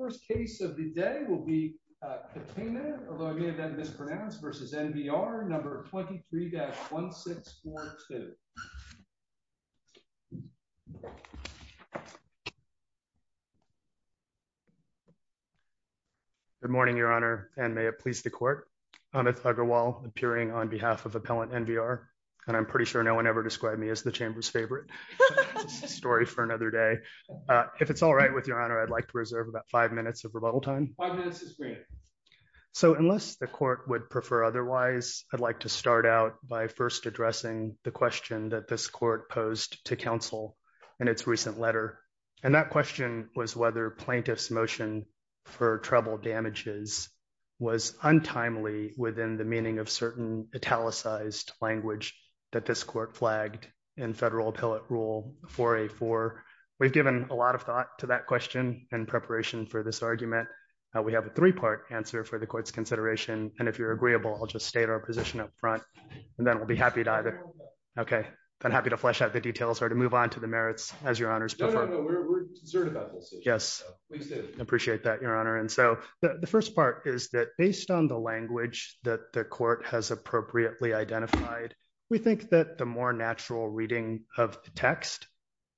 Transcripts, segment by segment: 23-1642 Good morning, Your Honor, and may it please the Court. Amit Agarwal, appearing on behalf of Appellant NVR, and I'm pretty sure no one ever described me as the Chamber's favorite. It's a story for another day. If it's all right with Your Honor, I'd like to reserve about five minutes of rebuttal time. Five minutes is great. So unless the Court would prefer otherwise, I'd like to start out by first addressing the question that this Court posed to counsel in its recent letter, and that question was whether plaintiff's motion for treble damages was untimely within the meaning of certain italicized language that this Court flagged in federal appellate rule 4A4. We've given a lot of thought to that question in preparation for this argument. We have a three-part answer for the Court's consideration, and if you're agreeable, I'll just state our position up front, and then we'll be happy to either— I'm happy to flesh out the details or to move on to the merits as Your Honor's prefer. No, no, no. We're concerned about both sides. Yes. Please do. I appreciate that, Your Honor. And so the first part is that based on the language that the Court has appropriately identified, we think that the more natural reading of the text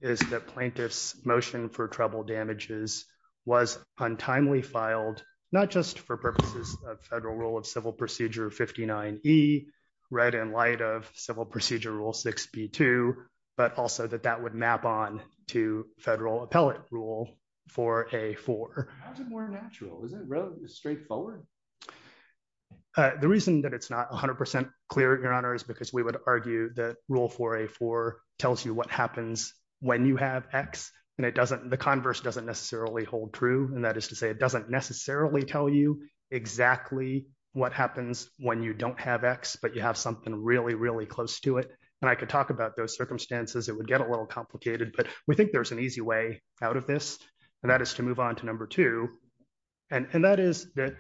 is that plaintiff's motion for treble damages was untimely filed not just for purposes of federal rule of civil procedure 59E, read in light of civil procedure rule 6B2, but also that that would map on to federal appellate rule 4A4. How is it more natural? Is it straightforward? The reason that it's not 100% clear, Your Honor, is because we would argue that rule 4A4 tells you what happens when you have X, and it doesn't—the converse doesn't necessarily hold true, and that is to say it doesn't necessarily tell you exactly what happens when you don't have X, but you have something really, really close to it, and I could talk about those circumstances. It would get a little complicated, but we think there's an easy way out of this, and that is to move on to number two, and that is that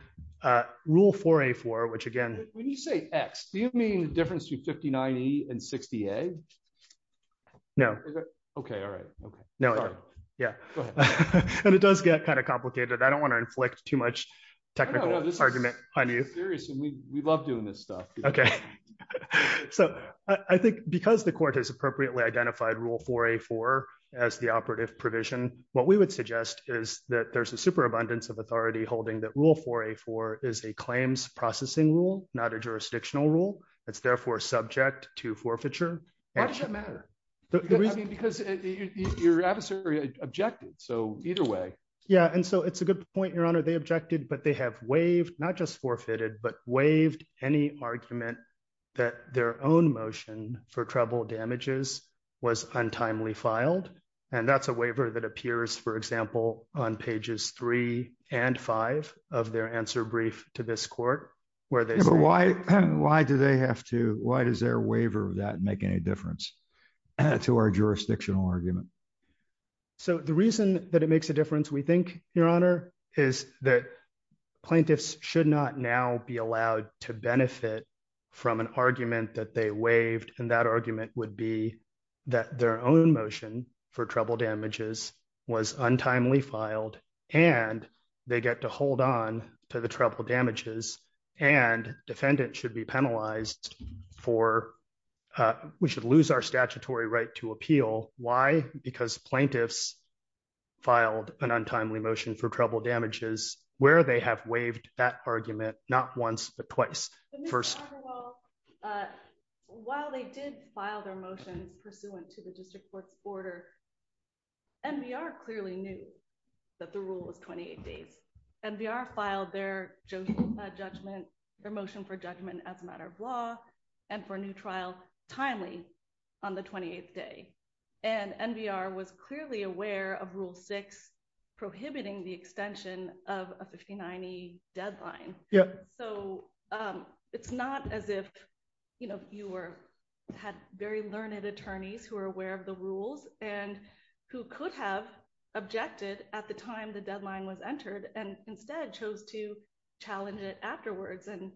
rule 4A4, which again— When you say X, do you mean the difference between 59E and 60A? No. Okay, all right. Okay. No, I don't. Yeah. Go ahead. And it does get kind of complicated. I don't want to inflict too much technical argument on you. No, no, no. This is serious, and we love doing this stuff. Okay. So I think because the Court has appropriately identified rule 4A4 as the operative provision, what we would suggest is that there's a superabundance of authority holding that rule 4A4 is a claims processing rule, not a jurisdictional rule. It's therefore subject to forfeiture. Why does it matter? Because your adversary objected, so either way. Yeah, and so it's a good point, Your Honor. They objected, but they have waived, not just forfeited, but waived any argument that their own motion for treble damages was untimely filed. And that's a waiver that appears, for example, on pages three and five of their answer brief to this Court, where they say- Why does their waiver of that make any difference to our jurisdictional argument? So the reason that it makes a difference, we think, Your Honor, is that plaintiffs should not now be allowed to benefit from an argument that they waived, and that argument would be that their own motion for treble damages was untimely filed, and they get to hold on to the treble damages, and defendants should be penalized for- we should lose our statutory right to appeal. Why? Because plaintiffs filed an untimely motion for treble damages where they have waived that argument, not once, but twice, first- But, Mr. Garber, while they did file their motions pursuant to the district court's order, NBR clearly knew that the rule was 28 days. NBR filed their motion for judgment as a matter of law, and for a new trial, timely, on the 28th day. And NBR was clearly aware of Rule 6 prohibiting the extension of a 50-90 deadline. So it's not as if, you know, you had very learned attorneys who were aware of the rules and who could have objected at the time the deadline was entered, and instead chose to challenge it afterwards, and,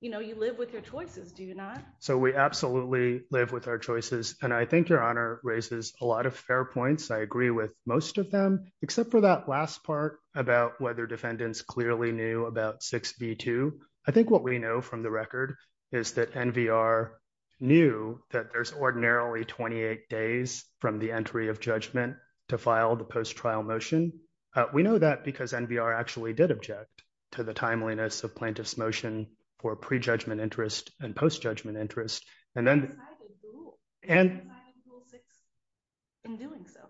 you know, you live with your choices, do you not? So we absolutely live with our choices, and I think Your Honor raises a lot of fair points. I agree with most of them, except for that last part about whether defendants clearly knew about 6b2. I think what we know from the record is that NBR knew that there's ordinarily 28 days from the entry of judgment to file the post-trial motion. We know that because NBR actually did object to the timeliness of plaintiff's motion for pre-judgment interest and post-judgment interest, and then— They decided to rule 6 in doing so.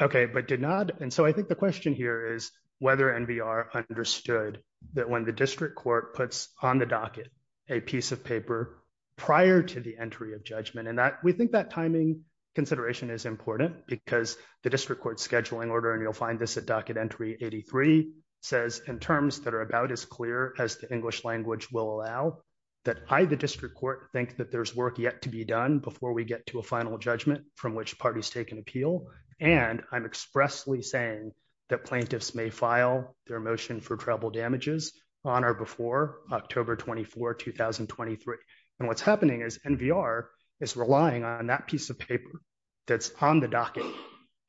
Okay, but did not—and so I think the question here is whether NBR understood that when the district court puts on the docket a piece of paper prior to the entry of judgment, and that—we think that timing consideration is important because the district court scheduling order—and you'll find this at Docket Entry 83—says, in terms that are about as clear as the English language will allow, that I, the district court, think that there's work yet to be done before we get to a final judgment from which parties take an appeal, and I'm expressly saying that plaintiffs may file their motion for tribal damages on or before October 24, 2023. And what's happening is NBR is relying on that piece of paper that's on the docket,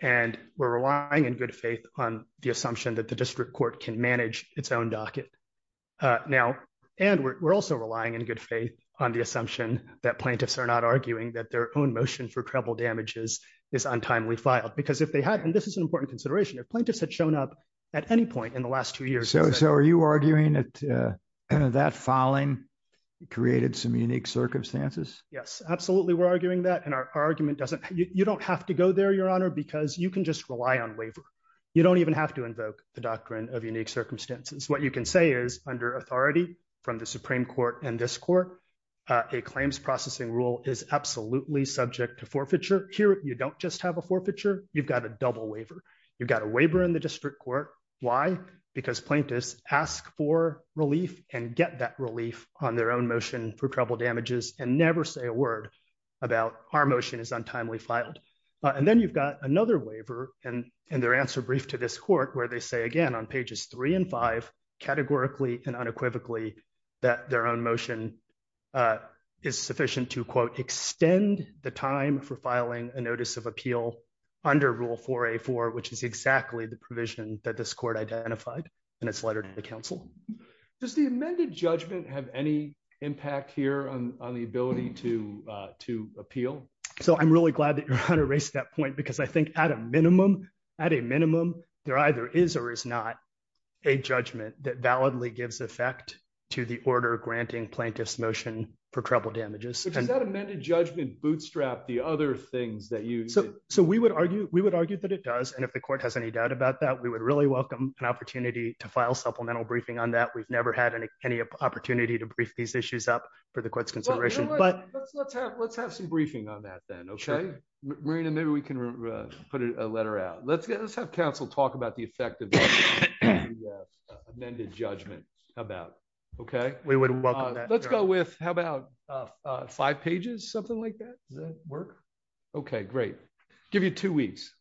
and we're relying in good faith on the assumption that the district court can manage its own docket. Now—and we're also relying in good faith on the assumption that plaintiffs are not arguing that their own motion for tribal damages is untimely filed, because if they hadn't—and this is an important consideration—if plaintiffs had shown up at any point in the last two years— So are you arguing that that filing created some unique circumstances? Yes, absolutely we're arguing that, and our argument doesn't—you don't have to go there, Your Honor, because you can just rely on waiver. You don't even have to invoke the doctrine of unique circumstances. What you can say is, under authority from the Supreme Court and this Court, a claims processing rule is absolutely subject to forfeiture. Here you don't just have a forfeiture. You've got a double waiver. You've got a waiver in the district court. Why? Because plaintiffs ask for relief and get that relief on their own motion for tribal damages and never say a word about our motion is untimely filed. And then you've got another waiver in their answer brief to this Court where they say again on pages 3 and 5, categorically and unequivocally, that their own motion is sufficient to, quote, extend the time for filing a notice of appeal under Rule 4A.4, which is exactly the provision that this Court identified in its letter to the counsel. Does the amended judgment have any impact here on the ability to appeal? So I'm really glad that Your Honor raised that point because I think at a minimum, there either is or is not a judgment that validly gives effect to the order granting plaintiffs motion for tribal damages. Does that amended judgment bootstrap the other things that you... So we would argue that it does, and if the Court has any doubt about that, we would really welcome an opportunity to file supplemental briefing on that. We've never had any opportunity to brief these issues up for the Court's consideration. Let's have some briefing on that then, okay? Marina, maybe we can put a letter out. Let's have counsel talk about the effect of the amended judgment. How about... Okay? We would welcome that. Let's go with, how about five pages, something like that? Does that work? Okay, great. Give you two weeks.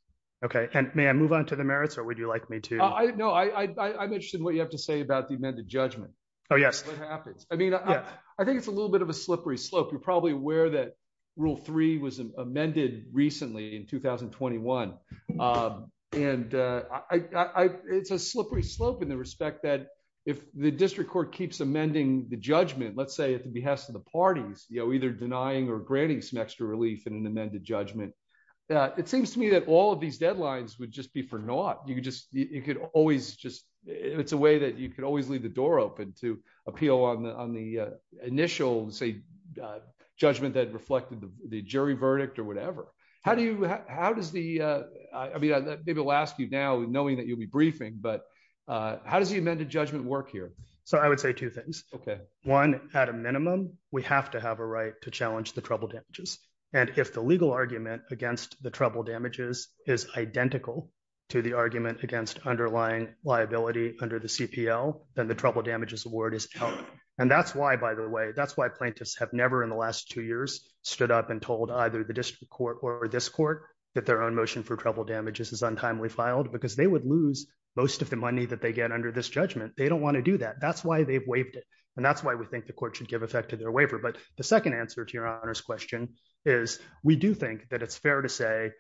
Okay. And may I move on to the merits, or would you like me to... No, I'm interested in what you have to say about the amended judgment. Oh, yes. What happens. I mean, I think it's a little bit of a slippery slope. You're probably aware that Rule 3 was amended recently in 2021, and it's a slippery slope in the respect that if the District Court keeps amending the judgment, let's say, at the behest of the parties, you know, either denying or granting some extra relief in an amended judgment, it seems to me that all of these deadlines would just be for naught. You could just... You could always just... Let's go on the initial, say, judgment that reflected the jury verdict or whatever. How do you... How does the... I mean, maybe I'll ask you now, knowing that you'll be briefing, but how does the amended judgment work here? So I would say two things. Okay. One, at a minimum, we have to have a right to challenge the trouble damages. And if the legal argument against the trouble damages is identical to the argument against underlying liability under the CPL, then the trouble damages award is out. And that's why, by the way, that's why plaintiffs have never in the last two years stood up and told either the District Court or this court that their own motion for trouble damages is untimely filed, because they would lose most of the money that they get under this judgment. They don't want to do that. That's why they've waived it. And that's why we think the court should give effect to their waiver. But the second answer to your Honor's question is we do think that it's fair to say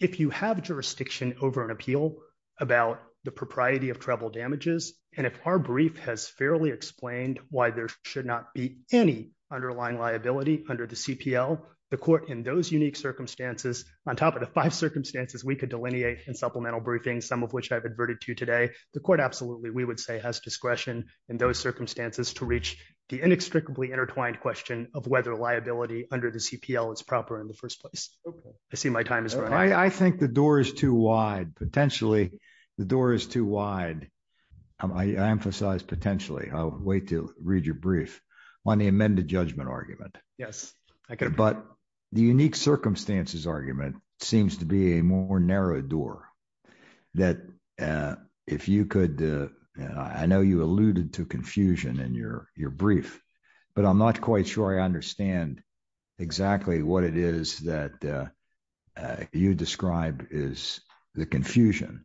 if you have jurisdiction over an appeal about the propriety of trouble damages, and if our brief has fairly explained why there should not be any underlying liability under the CPL, the court, in those unique circumstances, on top of the five circumstances we could delineate in supplemental briefings, some of which I've adverted to today, the court absolutely, we would say, has discretion in those circumstances to reach the inextricably intertwined question of whether liability under the CPL is proper in the first place. I see my time is running out. I think the door is too wide. Potentially, the door is too wide. I emphasize potentially. I'll wait to read your brief on the amended judgment argument. Yes. But the unique circumstances argument seems to be a more narrow door that if you could, I know you alluded to confusion in your brief, but I'm not quite sure I understand exactly what it is that you described is the confusion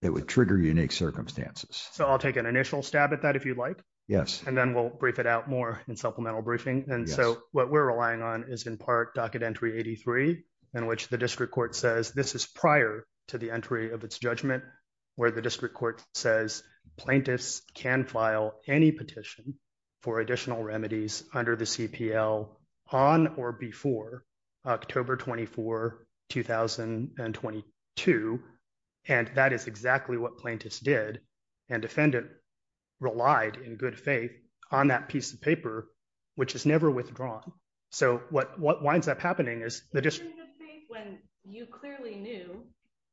that would trigger unique circumstances. So I'll take an initial stab at that if you'd like. Yes. And then we'll brief it out more in supplemental briefing. And so what we're relying on is in part Docket Entry 83, in which the district court says this is prior to the entry of its judgment, where the district court says plaintiffs can file any petition for additional remedies under the CPL on or before October 24, 2022. And that is exactly what plaintiffs did. And defendant relied in good faith on that piece of paper, which is never withdrawn. So what winds up happening is the district. When you clearly knew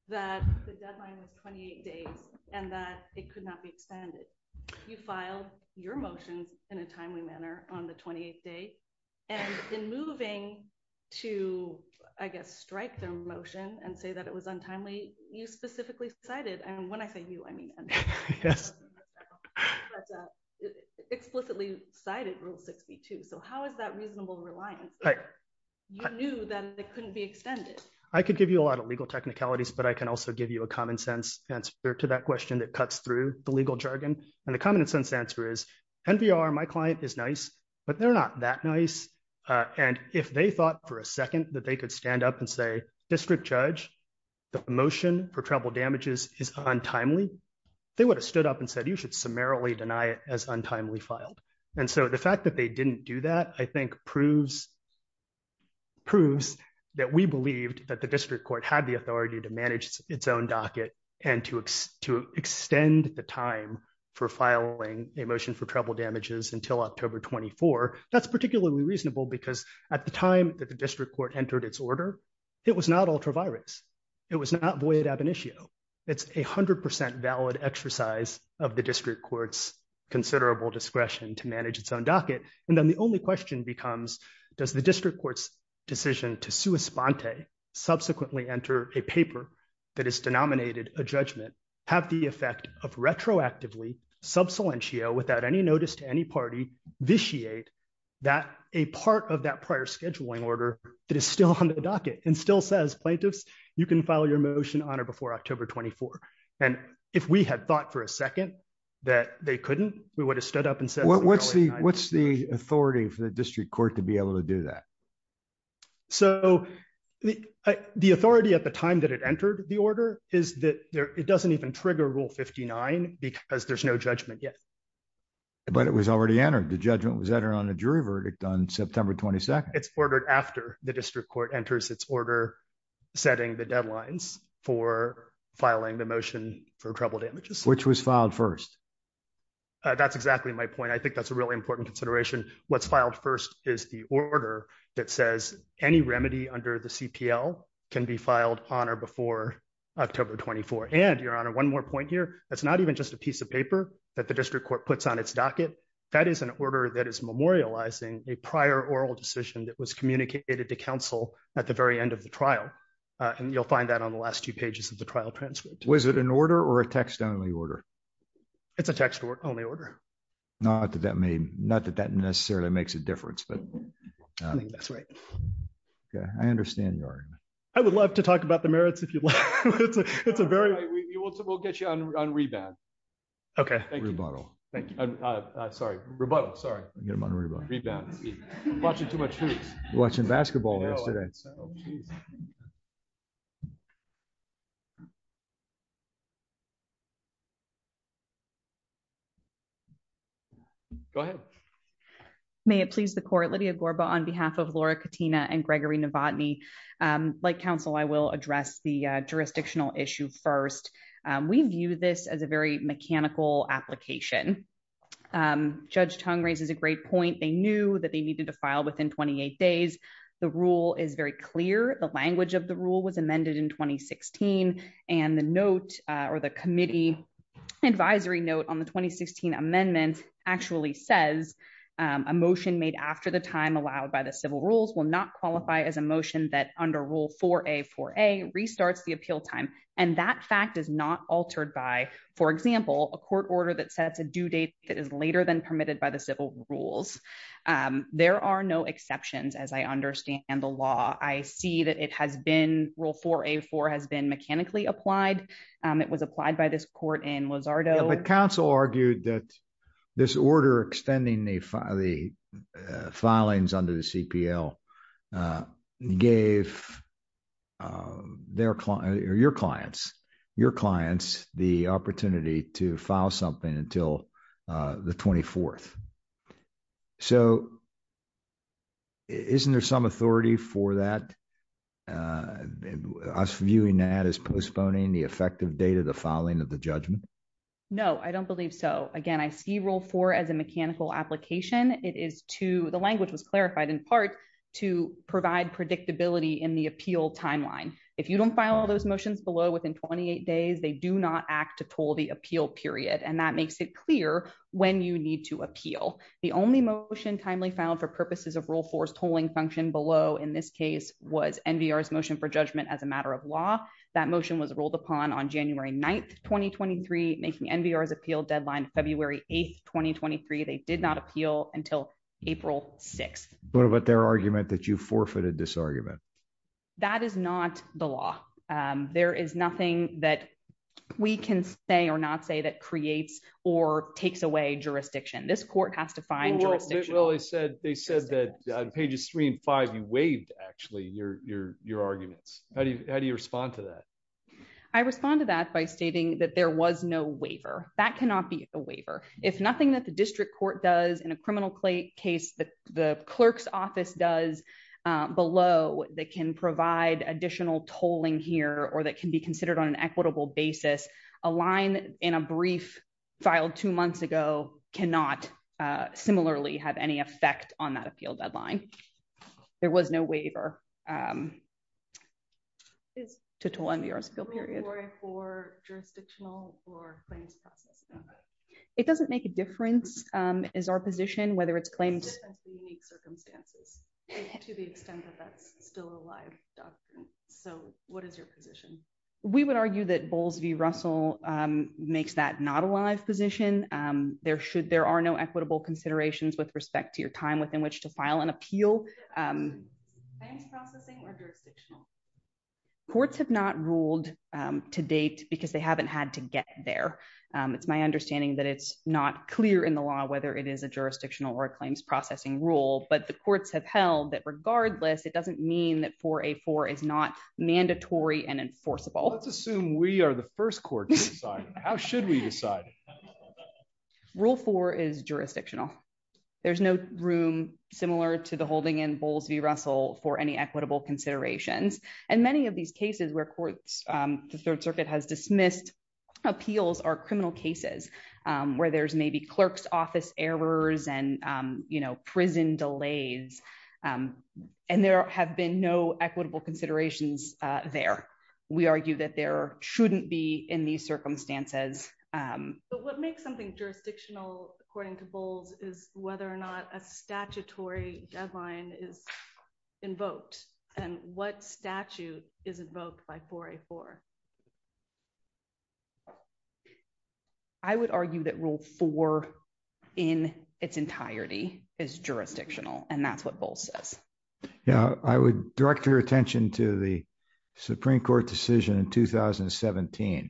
that the deadline was 28 days and that it could not be extended. You filed your motions in a timely manner on the 28th day and in moving to, I guess, strike their motion and say that it was untimely. You specifically cited and when I say you, I mean, yes, explicitly cited Rule 62. So how is that reasonable reliance? You knew that it couldn't be extended. I could give you a lot of legal technicalities, but I can also give you a common sense answer to that question that cuts through the legal jargon. And the common sense answer is NVR. My client is nice, but they're not that nice. And if they thought for a second that they could stand up and say, district judge, the motion for travel damages is untimely. They would have stood up and said, you should summarily deny it as untimely filed. And so the fact that they didn't do that, I think proves. Proves that we believed that the district court had the authority to manage its own docket and to extend the time for filing a motion for travel damages until October 24. That's particularly reasonable because at the time that the district court entered its order, it was not ultra virus. It was not void ab initio. It's a hundred percent valid exercise of the district court's considerable discretion to manage its own docket. And then the only question becomes, does the district court's decision to sue a sponte, subsequently enter a paper that is denominated a judgment, have the effect of retroactively sub salientio without any notice to any party, vitiate that a part of that prior scheduling order that is still on the docket and still says plaintiffs, you can file your motion on or before October 24. And if we had thought for a second that they couldn't, we would have stood up and said. What's the authority for the district court to be able to do that? So the authority at the time that it entered the order is that it doesn't even trigger rule 59 because there's no judgment yet. But it was already entered. The judgment was entered on a jury verdict on September 22nd. It's ordered after the district court enters its order, setting the deadlines for filing the motion for trouble damages. Which was filed first. That's exactly my point. I think that's a really important consideration. What's filed first is the order that says any remedy under the CPL can be filed on or before October 24th. And your honor, one more point here. That's not even just a piece of paper that the district court puts on its docket. That is an order that is memorializing a prior oral decision that was communicated to counsel at the very end of the trial. And you'll find that on the last two pages of the trial transcript. Was it an order or a text only order? It's a text only order. Not that that necessarily makes a difference. I think that's right. I understand your argument. I would love to talk about the merits if you'd like. We'll get you on rebound. Okay. Rebuttal. Sorry, rebuttal. Rebound. Watching too much hoops. Watching basketball yesterday. Go ahead. May it please the court. Lydia Gorba on behalf of Laura Katina and Gregory Novotny. Like counsel, I will address the jurisdictional issue first. We view this as a very mechanical application. Judge Tong raises a great point. They knew that they needed to file within 28 days. The rule is very clear. The language of the rule was amended in 2016. And the note or the committee advisory note on the 2016 amendment actually says a motion made after the time allowed by the civil rules will not qualify as a motion that under rule 4A4A restarts the appeal time. And that fact is not altered by, for example, a court order that sets a due date that is later than permitted by the civil rules. There are no exceptions as I understand the law. I see that it has been rule 4A4 has been mechanically applied. It was applied by this court in Lozardo. But counsel argued that this order extending the filings under the CPL gave your clients the opportunity to file something until the 24th. So isn't there some authority for that? Us viewing that as postponing the effective date of the filing of the judgment? No, I don't believe so. Again, I see rule 4 as a mechanical application. It is to, the language was clarified in part, to provide predictability in the appeal timeline. If you don't file those motions below within 28 days, they do not act to toll the appeal period. And that makes it clear when you need to appeal. The only motion timely filed for purposes of rule 4's tolling function below in this case was NVR's motion for judgment as a matter of law. That motion was rolled upon on January 9th, 2023, making NVR's appeal deadline February 8th, 2023. They did not appeal until April 6th. What about their argument that you forfeited this argument? That is not the law. There is nothing that we can say or not say that creates or takes away jurisdiction. This court has to find jurisdiction. They said that on pages 3 and 5, you waived actually your arguments. How do you respond to that? I respond to that by stating that there was no waiver. That cannot be a waiver. If nothing that the district court does in a criminal case that the clerk's office does below, that can provide additional tolling here, or that can be considered on an equitable basis, a line in a brief filed two months ago cannot similarly have any effect on that appeal deadline. There was no waiver to toll NVR's appeal period. For jurisdictional or claims process? It doesn't make a difference is our position, whether it's claims. Circumstances to the extent that that's still alive. So what is your position? We would argue that Bowles v. Russell makes that not a live position. There should, there are no equitable considerations with respect to your time within which to file an appeal. Courts have not ruled to date because they haven't had to get there. It's my understanding that it's not clear in the law, whether it is a jurisdictional or a claims processing rule, but the courts have held that regardless, it doesn't mean that for a four is not mandatory and enforceable. Let's assume we are the first court. How should we decide rule four is jurisdictional. There's no room similar to the holding in Bowles v. Russell for any equitable considerations. And many of these cases where courts, the third circuit has dismissed appeals are criminal cases where there's maybe clerk's office errors and prison delays. And there have been no equitable considerations there. We argue that there shouldn't be in these circumstances. But what makes something jurisdictional according to Bowles is whether or not a statutory deadline is invoked and what statute is invoked by 4A4? I would argue that rule four in its entirety is jurisdictional. And that's what Bowles says. Yeah. I would direct your attention to the Supreme court decision in 2017,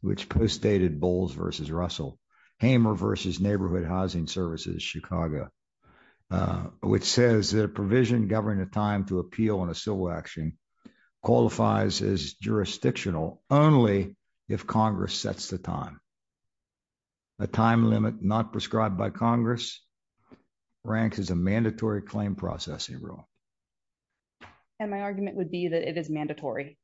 which postdated Bowles v. Russell, Hamer v. Neighborhood Housing Services, Chicago, which says that a provision governing a time to appeal on a civil action qualifies as jurisdictional. Only if Congress sets the time, a time limit not prescribed by Congress ranks as a mandatory claim processing rule. And my argument would be that it is mandatory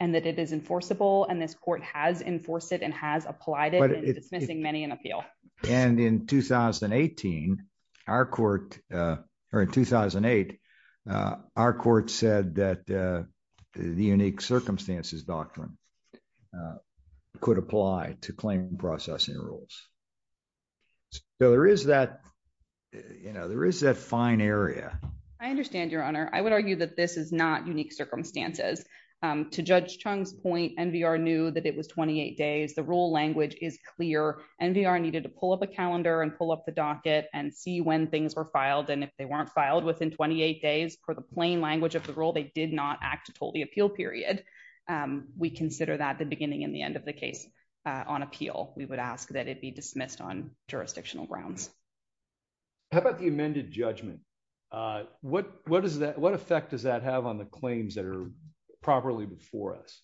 and that it is enforceable. And this court has enforced it and has applied it. It's missing many in appeal. And in 2018, our court, or in 2008, uh, our court said that, uh, the unique circumstances doctrine, uh, could apply to claim processing rules. So there is that, you know, there is that fine area. I understand your honor. I would argue that this is not unique circumstances. Um, to judge Chung's point, NVR knew that it was 28 days. The rule language is clear. NVR needed to pull up a calendar and pull up the docket and see when things were filed. And if they weren't filed within 28 days for the plain language of the rule, they did not act to told the appeal period. Um, we consider that the beginning and the end of the case, uh, on appeal, we would ask that it be dismissed on jurisdictional grounds. How about the amended judgment? Uh, what, what does that, what effect does that have on the claims that are properly before us?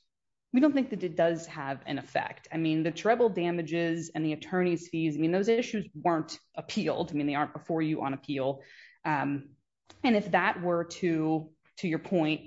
We don't think that it does have an effect. I mean, the treble damages and the attorney's fees. I mean, those issues weren't appealed. I mean, they aren't before you on appeal. Um, and if that were to, to your point,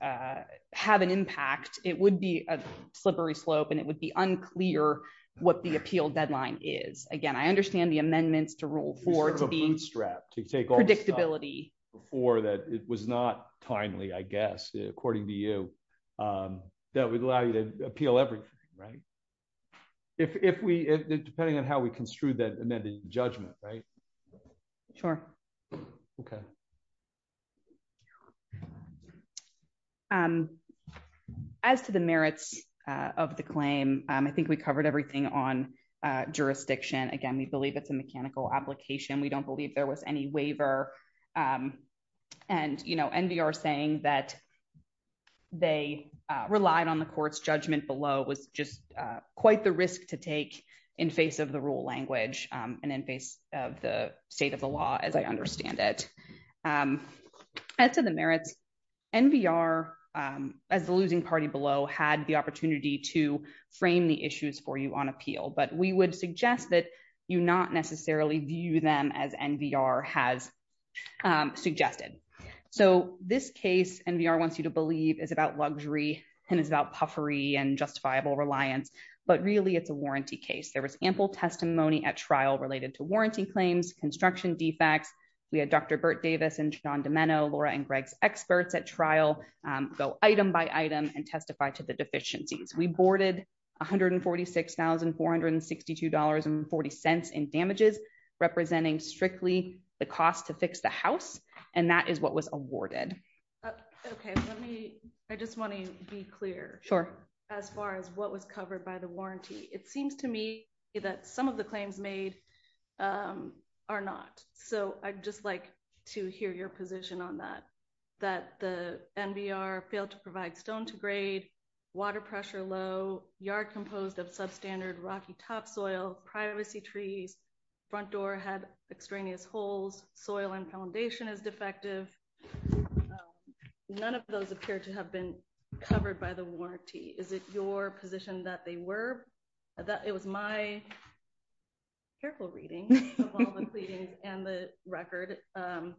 uh, have an impact, it would be a slippery slope and it would be unclear what the appeal deadline is. Again, I understand the amendments to rule for being strapped to take all predictability before that. It was not timely, I guess, according to you, um, that would allow you to appeal everything. Right. If, if we, depending on how we construed that and then the judgment, right. Sure. Okay. Um, as to the merits, uh, of the claim, um, I think we covered everything on, uh, jurisdiction. Again, we believe it's a mechanical application. We don't believe there was any waiver. Um, and, you know, NBR saying that they, uh, relied on the court's judgment below was just, uh, quite the risk to take in face of the rule language. Um, and in face of the state of the law, as I understand it, um, as to the merits. NBR, um, as the losing party below had the opportunity to frame the issues for you on appeal, but we would suggest that you not necessarily view them as NBR has, um, suggested. So this case NBR wants you to believe is about luxury and it's about puffery and justifiable reliance, but really it's a warranty case. There was ample testimony at trial related to warranty claims, construction defects. We had Dr. Bert Davis and John Domeno, Laura and Greg's experts at trial, um, go item by item and testify to the deficiencies. We boarded. 146,462 dollars and 40 cents in damages, representing strictly the cost to fix the house. And that is what was awarded. Okay. Let me, I just want to be clear. Sure. As far as what was covered by the warranty, it seems to me that some of the claims made, um, are not. So I'd just like to hear your position on that, that the NBR failed to provide stone to grade water pressure, low yard composed of substandard Rocky top soil, privacy trees front door had extraneous holes. Soil and foundation is defective. None of those appear to have been covered by the warranty. Is it your position that they were, that it was my careful reading and the record, um,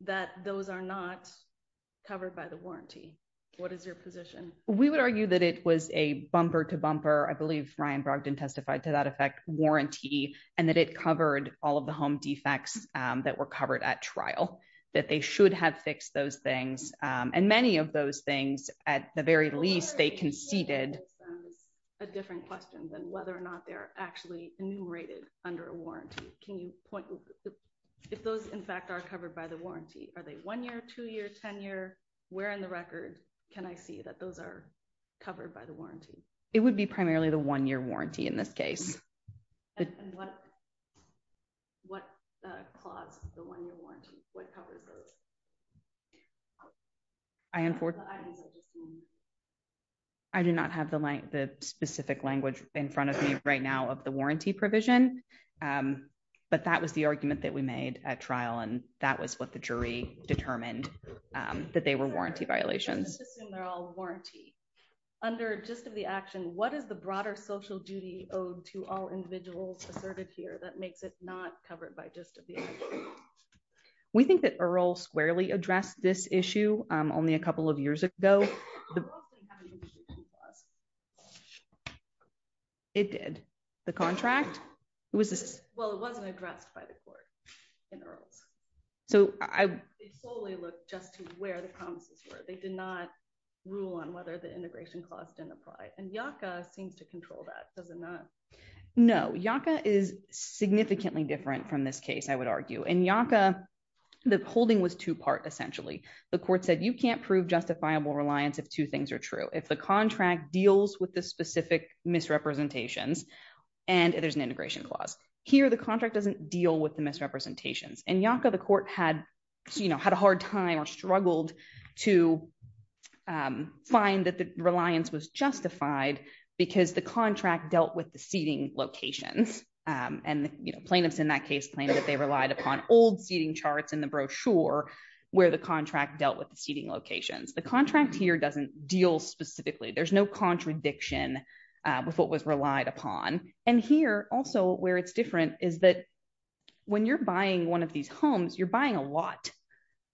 that those are not covered by the warranty. What is your position? We would argue that it was a bumper to bumper. I believe Ryan Brogdon testified to that effect warranty and that it covered all of the home defects, um, that were covered at trial, that they should have fixed those things. Um, and many of those things at the very least they conceded a different question than whether or not they're actually enumerated under a warranty. Can you point, if those in fact are covered by the warranty, are they one year, two years, 10 year where in the record can I see that those are covered by the warranty? It would be primarily the one year warranty in this case. And what, what, uh, clause, the one year warranty, what covers those items? I do not have the specific language in front of me right now of the warranty provision. Um, but that was the argument that we made at trial. And that was what the jury determined, um, that they were warranty violations. They're all warranty under just of the action. What is the broader social duty owed to all individuals asserted here? That makes it not covered by just a bit. We think that Earl squarely addressed this issue. Um, only a couple of years ago, it did the contract. Well, it wasn't addressed by the court in Earl's. So I solely look just to where the promises were. They did not rule on whether the integration cost didn't apply and Yaka seems to control that. Does it not? No. Yaka is significantly different from this case. I would argue in Yaka, the holding was two part. Essentially the court said, you can't prove justifiable reliance. If two things are true, if the contract deals with the specific misrepresentations and there's an integration clause here, the contract doesn't deal with the misrepresentations and Yaka, the court had, you know, had a hard time or struggled to, um, find that the reliance was justified because the contract dealt with the seating locations. Um, and the plaintiffs in that case, they claimed that they relied upon old seating charts in the brochure where the contract dealt with the seating locations. The contract here doesn't deal specifically. There's no contradiction with what was relied upon. And here also where it's different is that when you're buying one of these homes, you're buying a lot.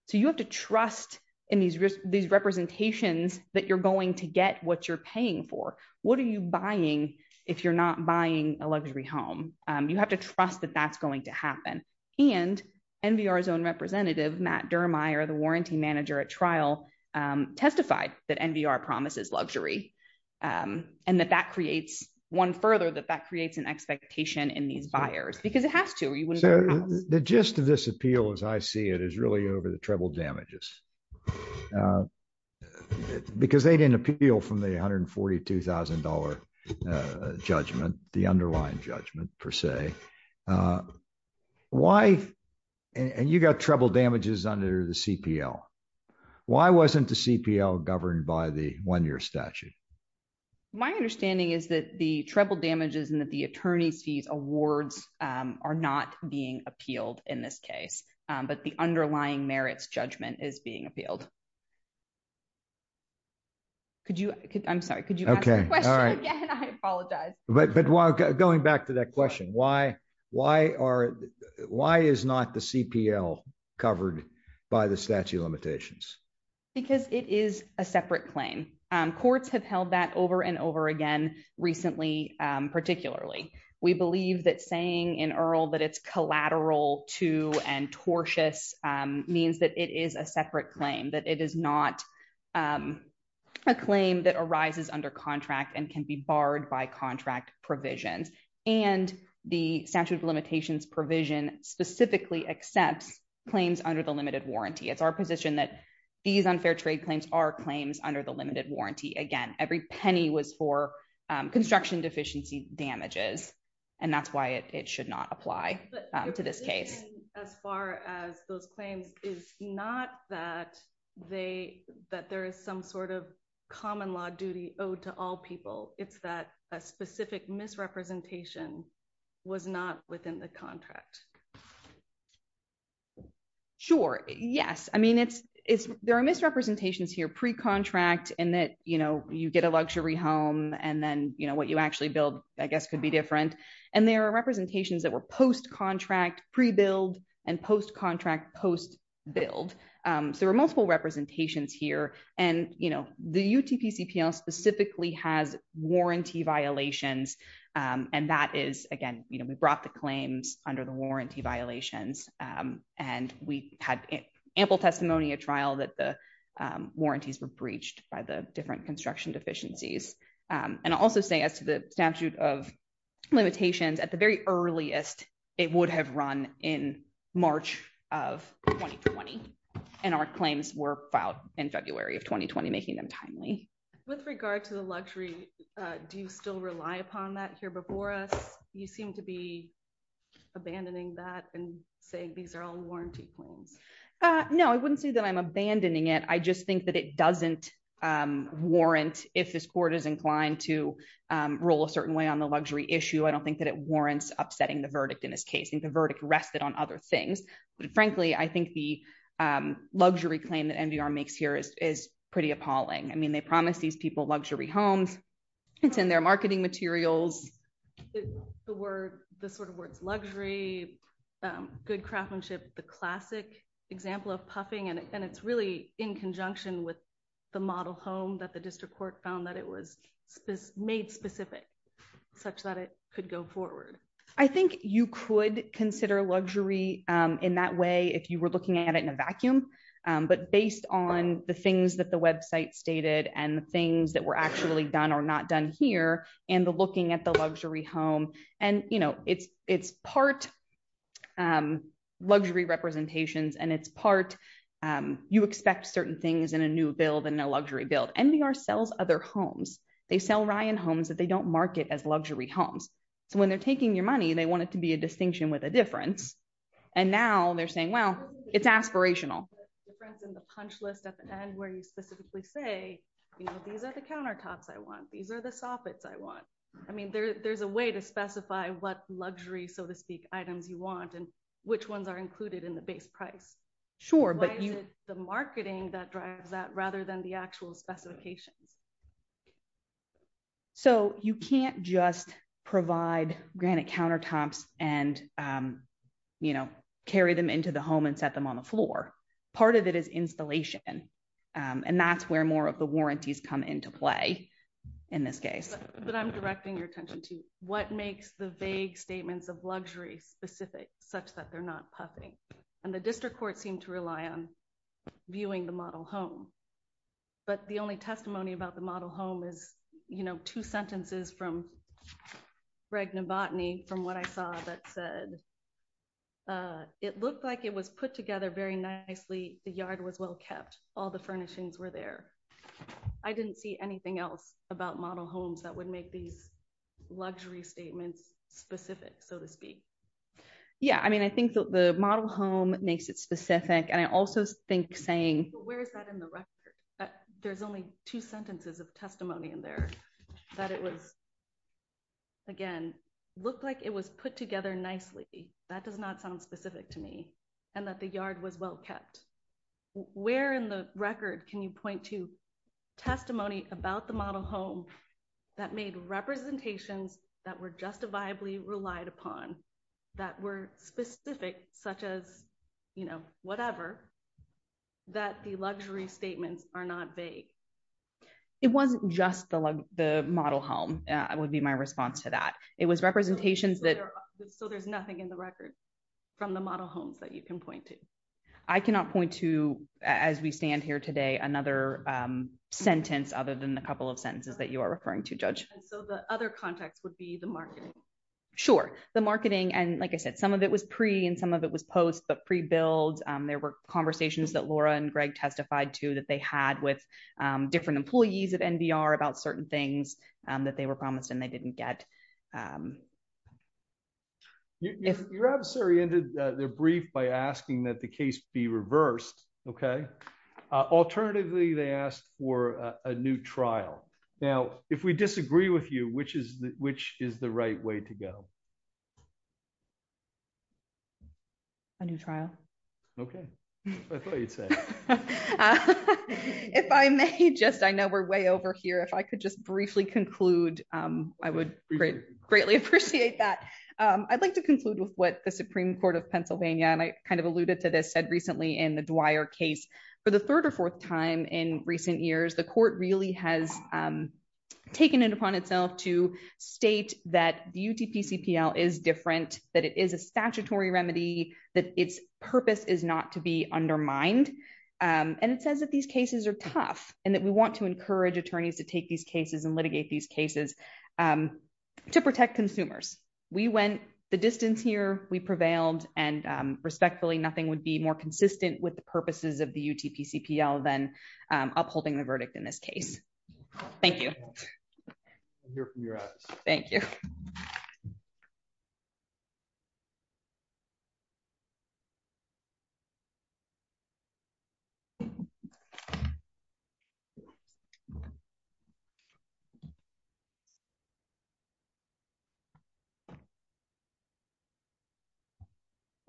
So you have to trust in these risks, these representations that you're going to get what you're paying for. What are you buying? If you're not buying a luxury home, you have to trust that that's going to happen. And NVR zone representative, Matt Dermier, the warranty manager at trial, um, testified that NVR promises luxury. Um, and that that creates one further, that that creates an expectation in these buyers because it has to, or you wouldn't. The gist of this appeal, as I see it is really over the treble damages, uh, because they didn't appeal from the $142,000, uh, judgment, the underlying judgment per se, uh, why? And you got treble damages under the CPL. Why wasn't the CPL governed by the one year statute? My understanding is that the treble damages and that the attorney's fees awards, um, are not being appealed in this case. Um, but the underlying merits judgment is being appealed. Could you, I'm sorry. Could you ask that question again? I apologize. But, but while going back to that question, why, why are, why is not the CPL covered by the statute of limitations? Because it is a separate claim. Um, courts have held that over and over again recently. Um, particularly we believe that saying in Earl, that it's collateral to and tortious, um, means that it is a separate claim that it is not, um, A claim that arises under contract and can be barred by contract provisions. And the statute of limitations provision specifically accepts claims under the limited warranty. It's our position that these unfair trade claims are claims under the limited warranty. Again, every penny was for, um, construction deficiency damages. And that's why it, it should not apply to this case. As far as those claims is not that they, that there is some sort of common law duty owed to all people. It's that a specific misrepresentation was not within the contract. Sure. Yes. I mean, it's, it's, there are misrepresentations here, pre-contract and that, you know, you get a luxury home and then, you know what you actually build, I guess could be different. And there are representations that were post-contract pre-build and post-contract post build. Um, so there were multiple representations here and, you know, the UTP CPL specifically has warranty violations. Um, and that is again, you know, we brought the claims under the warranty violations. Um, and we had ample testimony at trial that the, um, warranties were breached by the different construction deficiencies. Um, and I'll also say as to the statute of limitations at the very earliest, it would have run in March of 2020. And our claims were filed in February of 2020, making them timely. With regard to the luxury. Uh, do you still rely upon that here before us? You seem to be abandoning that and saying, these are all warranty claims. Uh, no, I wouldn't say that I'm abandoning it. I just think that it doesn't, um, warrant if this court is inclined to, um, roll a certain way on the luxury issue. I don't think that it warrants upsetting the verdict in this case and the verdict rested on other things. But frankly, I think the, um, luxury claim that NBR makes here is, is pretty appalling. I mean, they promised these people luxury homes. It's in their marketing materials. The word, the sort of words, luxury, um, good craftsmanship, the classic example of puffing. And it's really in conjunction with the model home that the district court found that it was made specific such that it could go forward. I think you could consider luxury, um, in that way. If you were looking at it in a vacuum, um, but based on the things that the website stated and the things that were actually done or not done here and the looking at the luxury home and, you know, it's, it's part, um, luxury representations and it's part, um, you expect certain things in a new build and no luxury build. NBR sells other homes. They sell Ryan homes that they don't market as luxury homes. So when they're taking your money, they want it to be a distinction with a difference. And now they're saying, well, it's aspirational. The punch list at the end where you specifically say, you know, these are the countertops I want. These are the soffits I want. I mean, there there's a way to specify what luxury, so to speak items you want and which ones are included in the base price. Sure. But the marketing that drives that rather than the actual specifications. So you can't just provide granite countertops and, um, you know, carry them into the home and set them on the floor. Part of it is installation. Um, and that's where more of the warranties come into play in this case, but I'm directing your attention to what makes the vague statements of luxury specific such that they're not puffing. And the district court seemed to rely on viewing the model home, but the only testimony about the model home is, you know, two sentences from. Regna botany from what I saw that said, uh, it looked like it was put together very nicely. The yard was well kept. All the furnishings were there. I didn't see anything else about model homes that would make these luxury statements specific, so to speak. Yeah. I mean, I think that the model home makes it specific and I also think saying, where's that in the record? There's only two sentences of testimony in there that it was. Again, looked like it was put together nicely. That does not sound specific to me and that the yard was well kept where in the record. Can you point to testimony about the model home that made representations that were justifiably relied upon that were specific, such as, you know, whatever that the luxury statements are not vague. It wasn't just the, the model home. I would be my response to that. It was representations that. So there's nothing in the record from the model homes that you can point to. I cannot point to, as we stand here today, another sentence other than the couple of sentences that you are referring to judge. So the other context would be the marketing. Sure. The marketing. And like I said, some of it was pre and some of it was post, but pre build, there were conversations that Laura and Greg testified to that they had with different employees of NBR about certain things that they were promised and they didn't get. If your adversary ended their brief by asking that the case be reversed. Okay. Alternatively, they asked for a new trial. Now, if we disagree with you, which is the, which is the right way to go. A new trial. Okay. I thought you'd say. If I may just, I know we're way over here. If I could just briefly conclude, I would greatly appreciate that. I'd like to conclude with what the Supreme court of Pennsylvania. And I kind of alluded to this said recently in the Dwyer case for the third or fourth time in recent years, the court really has taken it upon itself to state that the UTP CPL is different, that it is a statutory remedy, that its purpose is not to be undermined. And it says that these cases are tough and that we want to encourage attorneys to take these cases and litigate these cases to protect consumers. We went the distance here. We prevailed and respectfully, nothing would be more consistent with the purposes of the UTP CPL than upholding the verdict in this case. Thank you. Thank you. Thank you.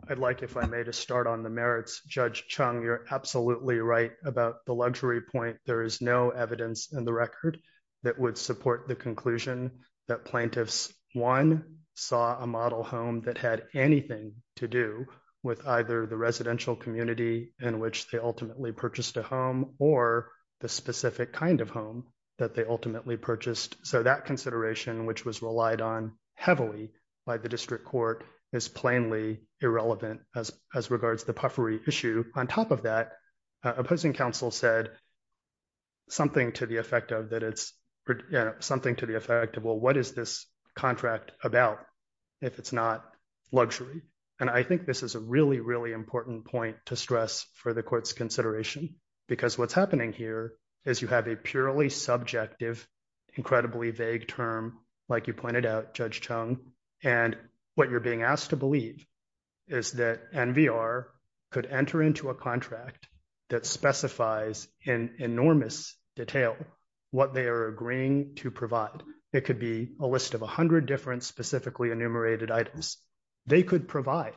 I'd like, if I made a start on the merits judge Chung, you're absolutely right about the luxury point. There is no evidence in the record that would support the conclusion that plaintiffs one saw a model home that had anything to do with either the residential community in which they ultimately purchased a property or the specific kind of home that they ultimately purchased. So that consideration, which was relied on heavily by the district court is plainly irrelevant as, as regards to the puffery issue. On top of that, opposing counsel said something to the effect of that. It's something to the effect of, well, what is this contract about if it's not luxury? And I think this is a really, really important point to stress for the court's consideration, because what's happening here is you have a purely subjective, incredibly vague term, like you pointed out judge Chung. And what you're being asked to believe is that NVR could enter into a contract that specifies in enormous detail what they are agreeing to provide. It could be a list of a hundred different specifically enumerated items. They could provide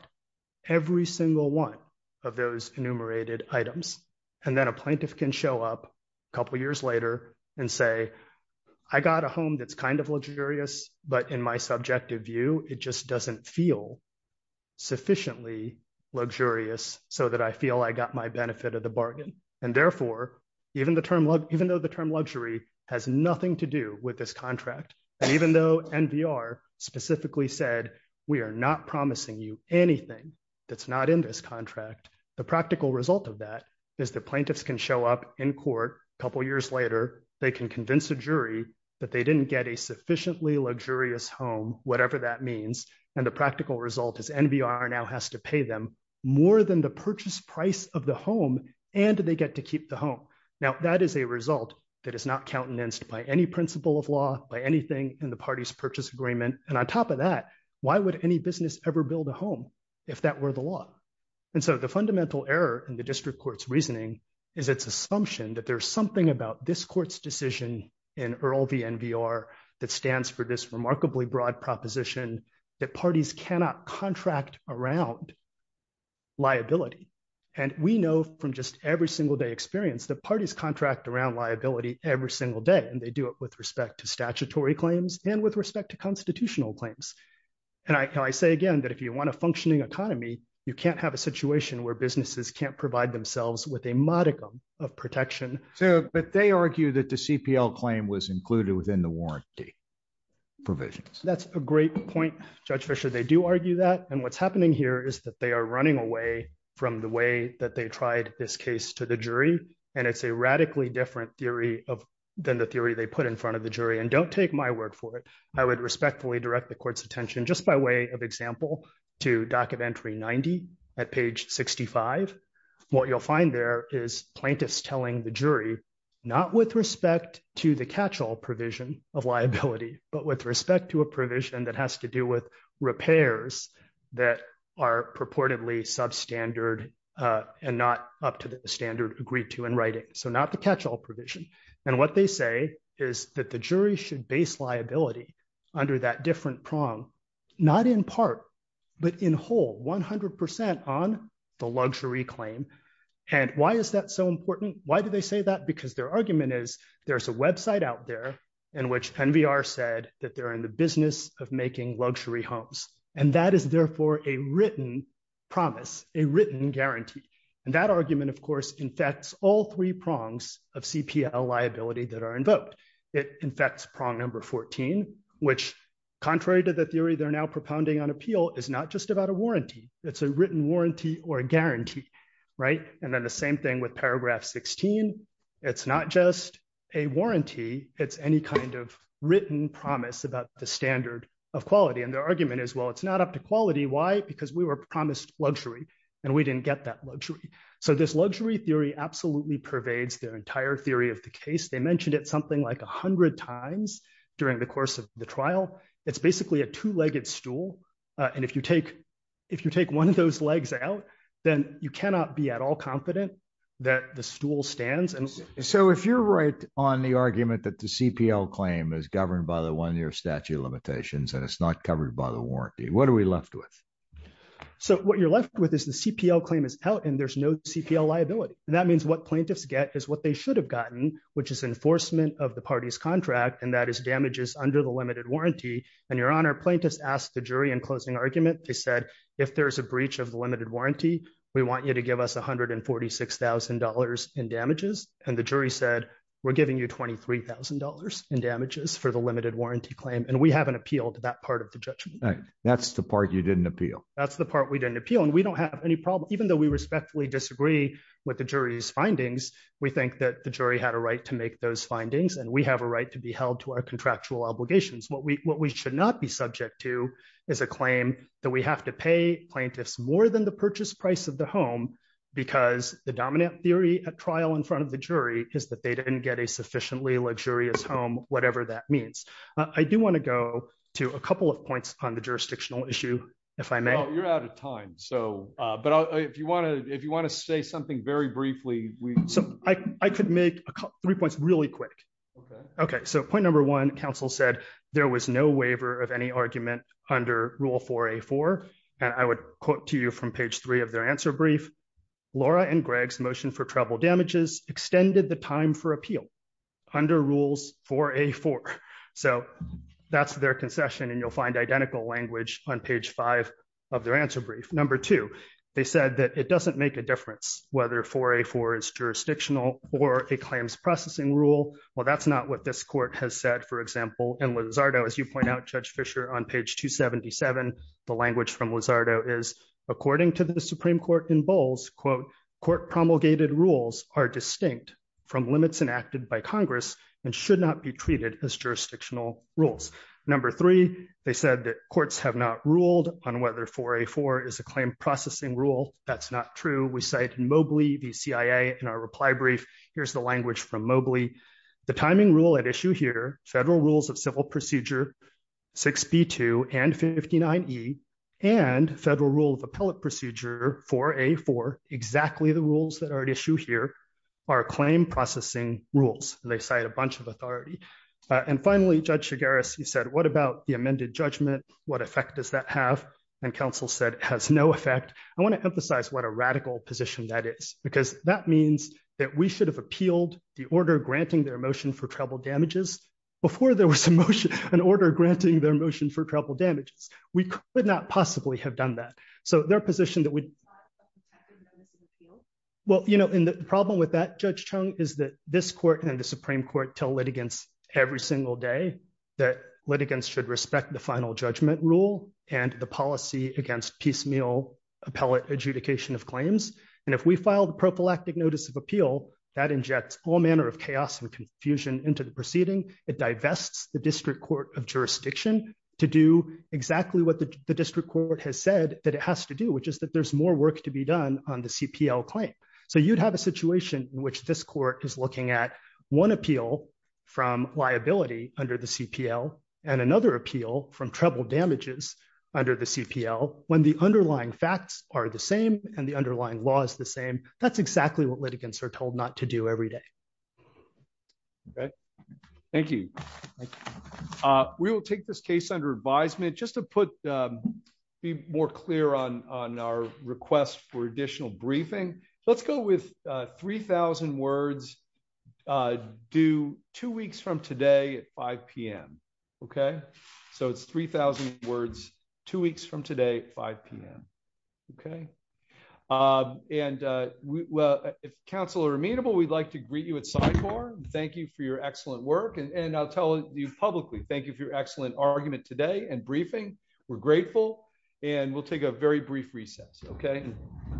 every single one of those enumerated items. And then a plaintiff can show up a couple of years later and say, I got a home. That's kind of luxurious, but in my subjective view, it just doesn't feel sufficiently luxurious so that I feel I got my benefit of the bargain. And therefore even the term, even though the term luxury has nothing to do with this contract. And even though NVR specifically said, we are not promising you anything that's not in this contract. The practical result of that is the plaintiffs can show up in court. A couple of years later, they can convince a jury that they didn't get a sufficiently luxurious home, whatever that means. And the practical result is NVR now has to pay them more than the purchase price of the home. And they get to keep the home. Now that is a result that is not countenanced by any principle of law, by anything in the party's purchase agreement. And on top of that, why would any business ever build a home if that were the law? And so the fundamental error in the district court's reasoning is it's assumption that there's something about this court's decision in Earl v. NVR that stands for this remarkably broad proposition that parties cannot contract around liability. And we know from just every single day experience that parties contract around liability every single day, and they do it with respect to statutory claims and with respect to constitutional claims. And I say again, that if you want a functioning economy, you can't have a situation where businesses can't provide themselves with a modicum of protection. So, but they argue that the CPL claim was included within the warranty provisions. That's a great point, Judge Fischer. They do argue that. And what's happening here is that they are running away from the way that they tried this case to the jury. And it's a radically different theory than the theory they put in front of the jury. And don't take my word for it. I would respectfully direct the court's attention just by way of example to documentary 90 at page 65. What you'll find there is plaintiffs telling the jury, not with respect to the catch-all provision of liability, but with respect to a provision that has to do with repairs that are purportedly substandard and not up to the standard agreed to in writing. So not the catch-all provision. And what they say is that the jury should base liability under that different prong, not in part, but in whole 100% on the luxury claim. And why is that so important? Why do they say that? Because their argument is there's a website out there in which Penn VR said that they're in the business of making luxury homes. And that is therefore a written promise, a written guarantee. And that argument, of course, infects all three prongs of CPL liability that are invoked. It infects prong number 14, which contrary to the theory they're now propounding on appeal, is not just about a warranty. It's a written warranty or a guarantee. And then the same thing with paragraph 16. It's not just a warranty. It's any kind of written promise about the standard of quality. And their argument is, well, it's not up to quality. Why? Because we were promised luxury and we didn't get that luxury. So this luxury theory absolutely pervades their entire theory of the case. They mentioned it something like a hundred times during the course of the trial. It's basically a two-legged stool. And if you take one of those legs out, then you cannot be at all confident that the stool stands. So if you're right on the argument that the CPL claim is governed by the one-year statute of limitations and it's not covered by the warranty, what are we left with? So what you're left with is the CPL claim is out and there's no CPL liability. That means what plaintiffs get is what they should have gotten, which is enforcement of the party's contract. And that is damages under the limited warranty. And Your Honor, plaintiffs asked the jury in closing argument, they said, if there's a breach of the limited warranty, we want you to give us $146,000 in damages. And the jury said, we're giving you $23,000 in damages for the limited warranty claim. And we haven't appealed to that part of the judgment. That's the part you didn't appeal. That's the part we didn't appeal. And we don't have any problem, even though we respectfully disagree with the jury's findings. We think that the jury had a right to make those findings and we have a right to be held to our contractual obligations. What we should not be subject to is a claim that we have to pay plaintiffs more than the purchase price of the home because the dominant theory at trial in front of the jury is that they didn't get a sufficiently luxurious home, whatever that means. I do want to go to a couple of points on the jurisdictional issue, if I may. You're out of time. But if you want to say something very briefly, so I could make three points really quick. Okay, so point number one, counsel said there was no waiver of any argument under rule 4A4. And I would quote to you from page three of their answer brief. Laura and Greg's motion for travel damages extended the time for appeal under rules 4A4. So that's their concession. And you'll find identical language on page five of their answer brief. Number two, they said that it doesn't make a difference whether 4A4 is jurisdictional or a claims processing rule. Well, that's not what this court has said. For example, in Lizardo, as you point out, Judge Fischer, on page 277, the language from Lizardo is according to the Supreme Court in Bowles, quote, court promulgated rules are distinct from limits enacted by Congress and should not be treated as jurisdictional rules. Number three, they said that courts have not ruled on whether 4A4 is a claim processing rule. That's not true. And then finally, Judge Mobley, the CIA, in our reply brief, here's the language from Mobley. The timing rule at issue here, federal rules of civil procedure 6B2 and 59E, and federal rule of appellate procedure 4A4, exactly the rules that are at issue here, are claim processing rules. They cite a bunch of authority. And finally, Judge Chigaris, he said, what about the amended judgment? What effect does that have? And counsel said, it has no effect. Because that means that we should have appealed the order granting their motion for treble damages before there was an order granting their motion for treble damages. We could not possibly have done that. So their position that we... Well, you know, the problem with that, Judge Chung, is that this court and the Supreme Court tell litigants every single day that litigants should respect the final judgment rule and the policy against piecemeal appellate adjudication of claims. Well, the prophylactic notice of appeal, that injects all manner of chaos and confusion into the proceeding. It divests the district court of jurisdiction to do exactly what the district court has said that it has to do, which is that there's more work to be done on the CPL claim. So you'd have a situation in which this court is looking at one appeal from liability under the CPL and another appeal from treble damages under the CPL when the underlying facts are different. That's exactly what litigants are told not to do every day. Thank you. We will take this case under advisement. Just to be more clear on our request for additional briefing. Let's go with 3,000 words due two weeks from today at 5 p.m. OK? So it's 3,000 words two weeks from today at 5 p.m. OK? And well, if counsel are amenable, we'd like to greet you at CIFOR. Thank you for your excellent work and I'll tell you publicly thank you for your excellent argument today and briefing. We're grateful and we'll take a very brief recess. OK?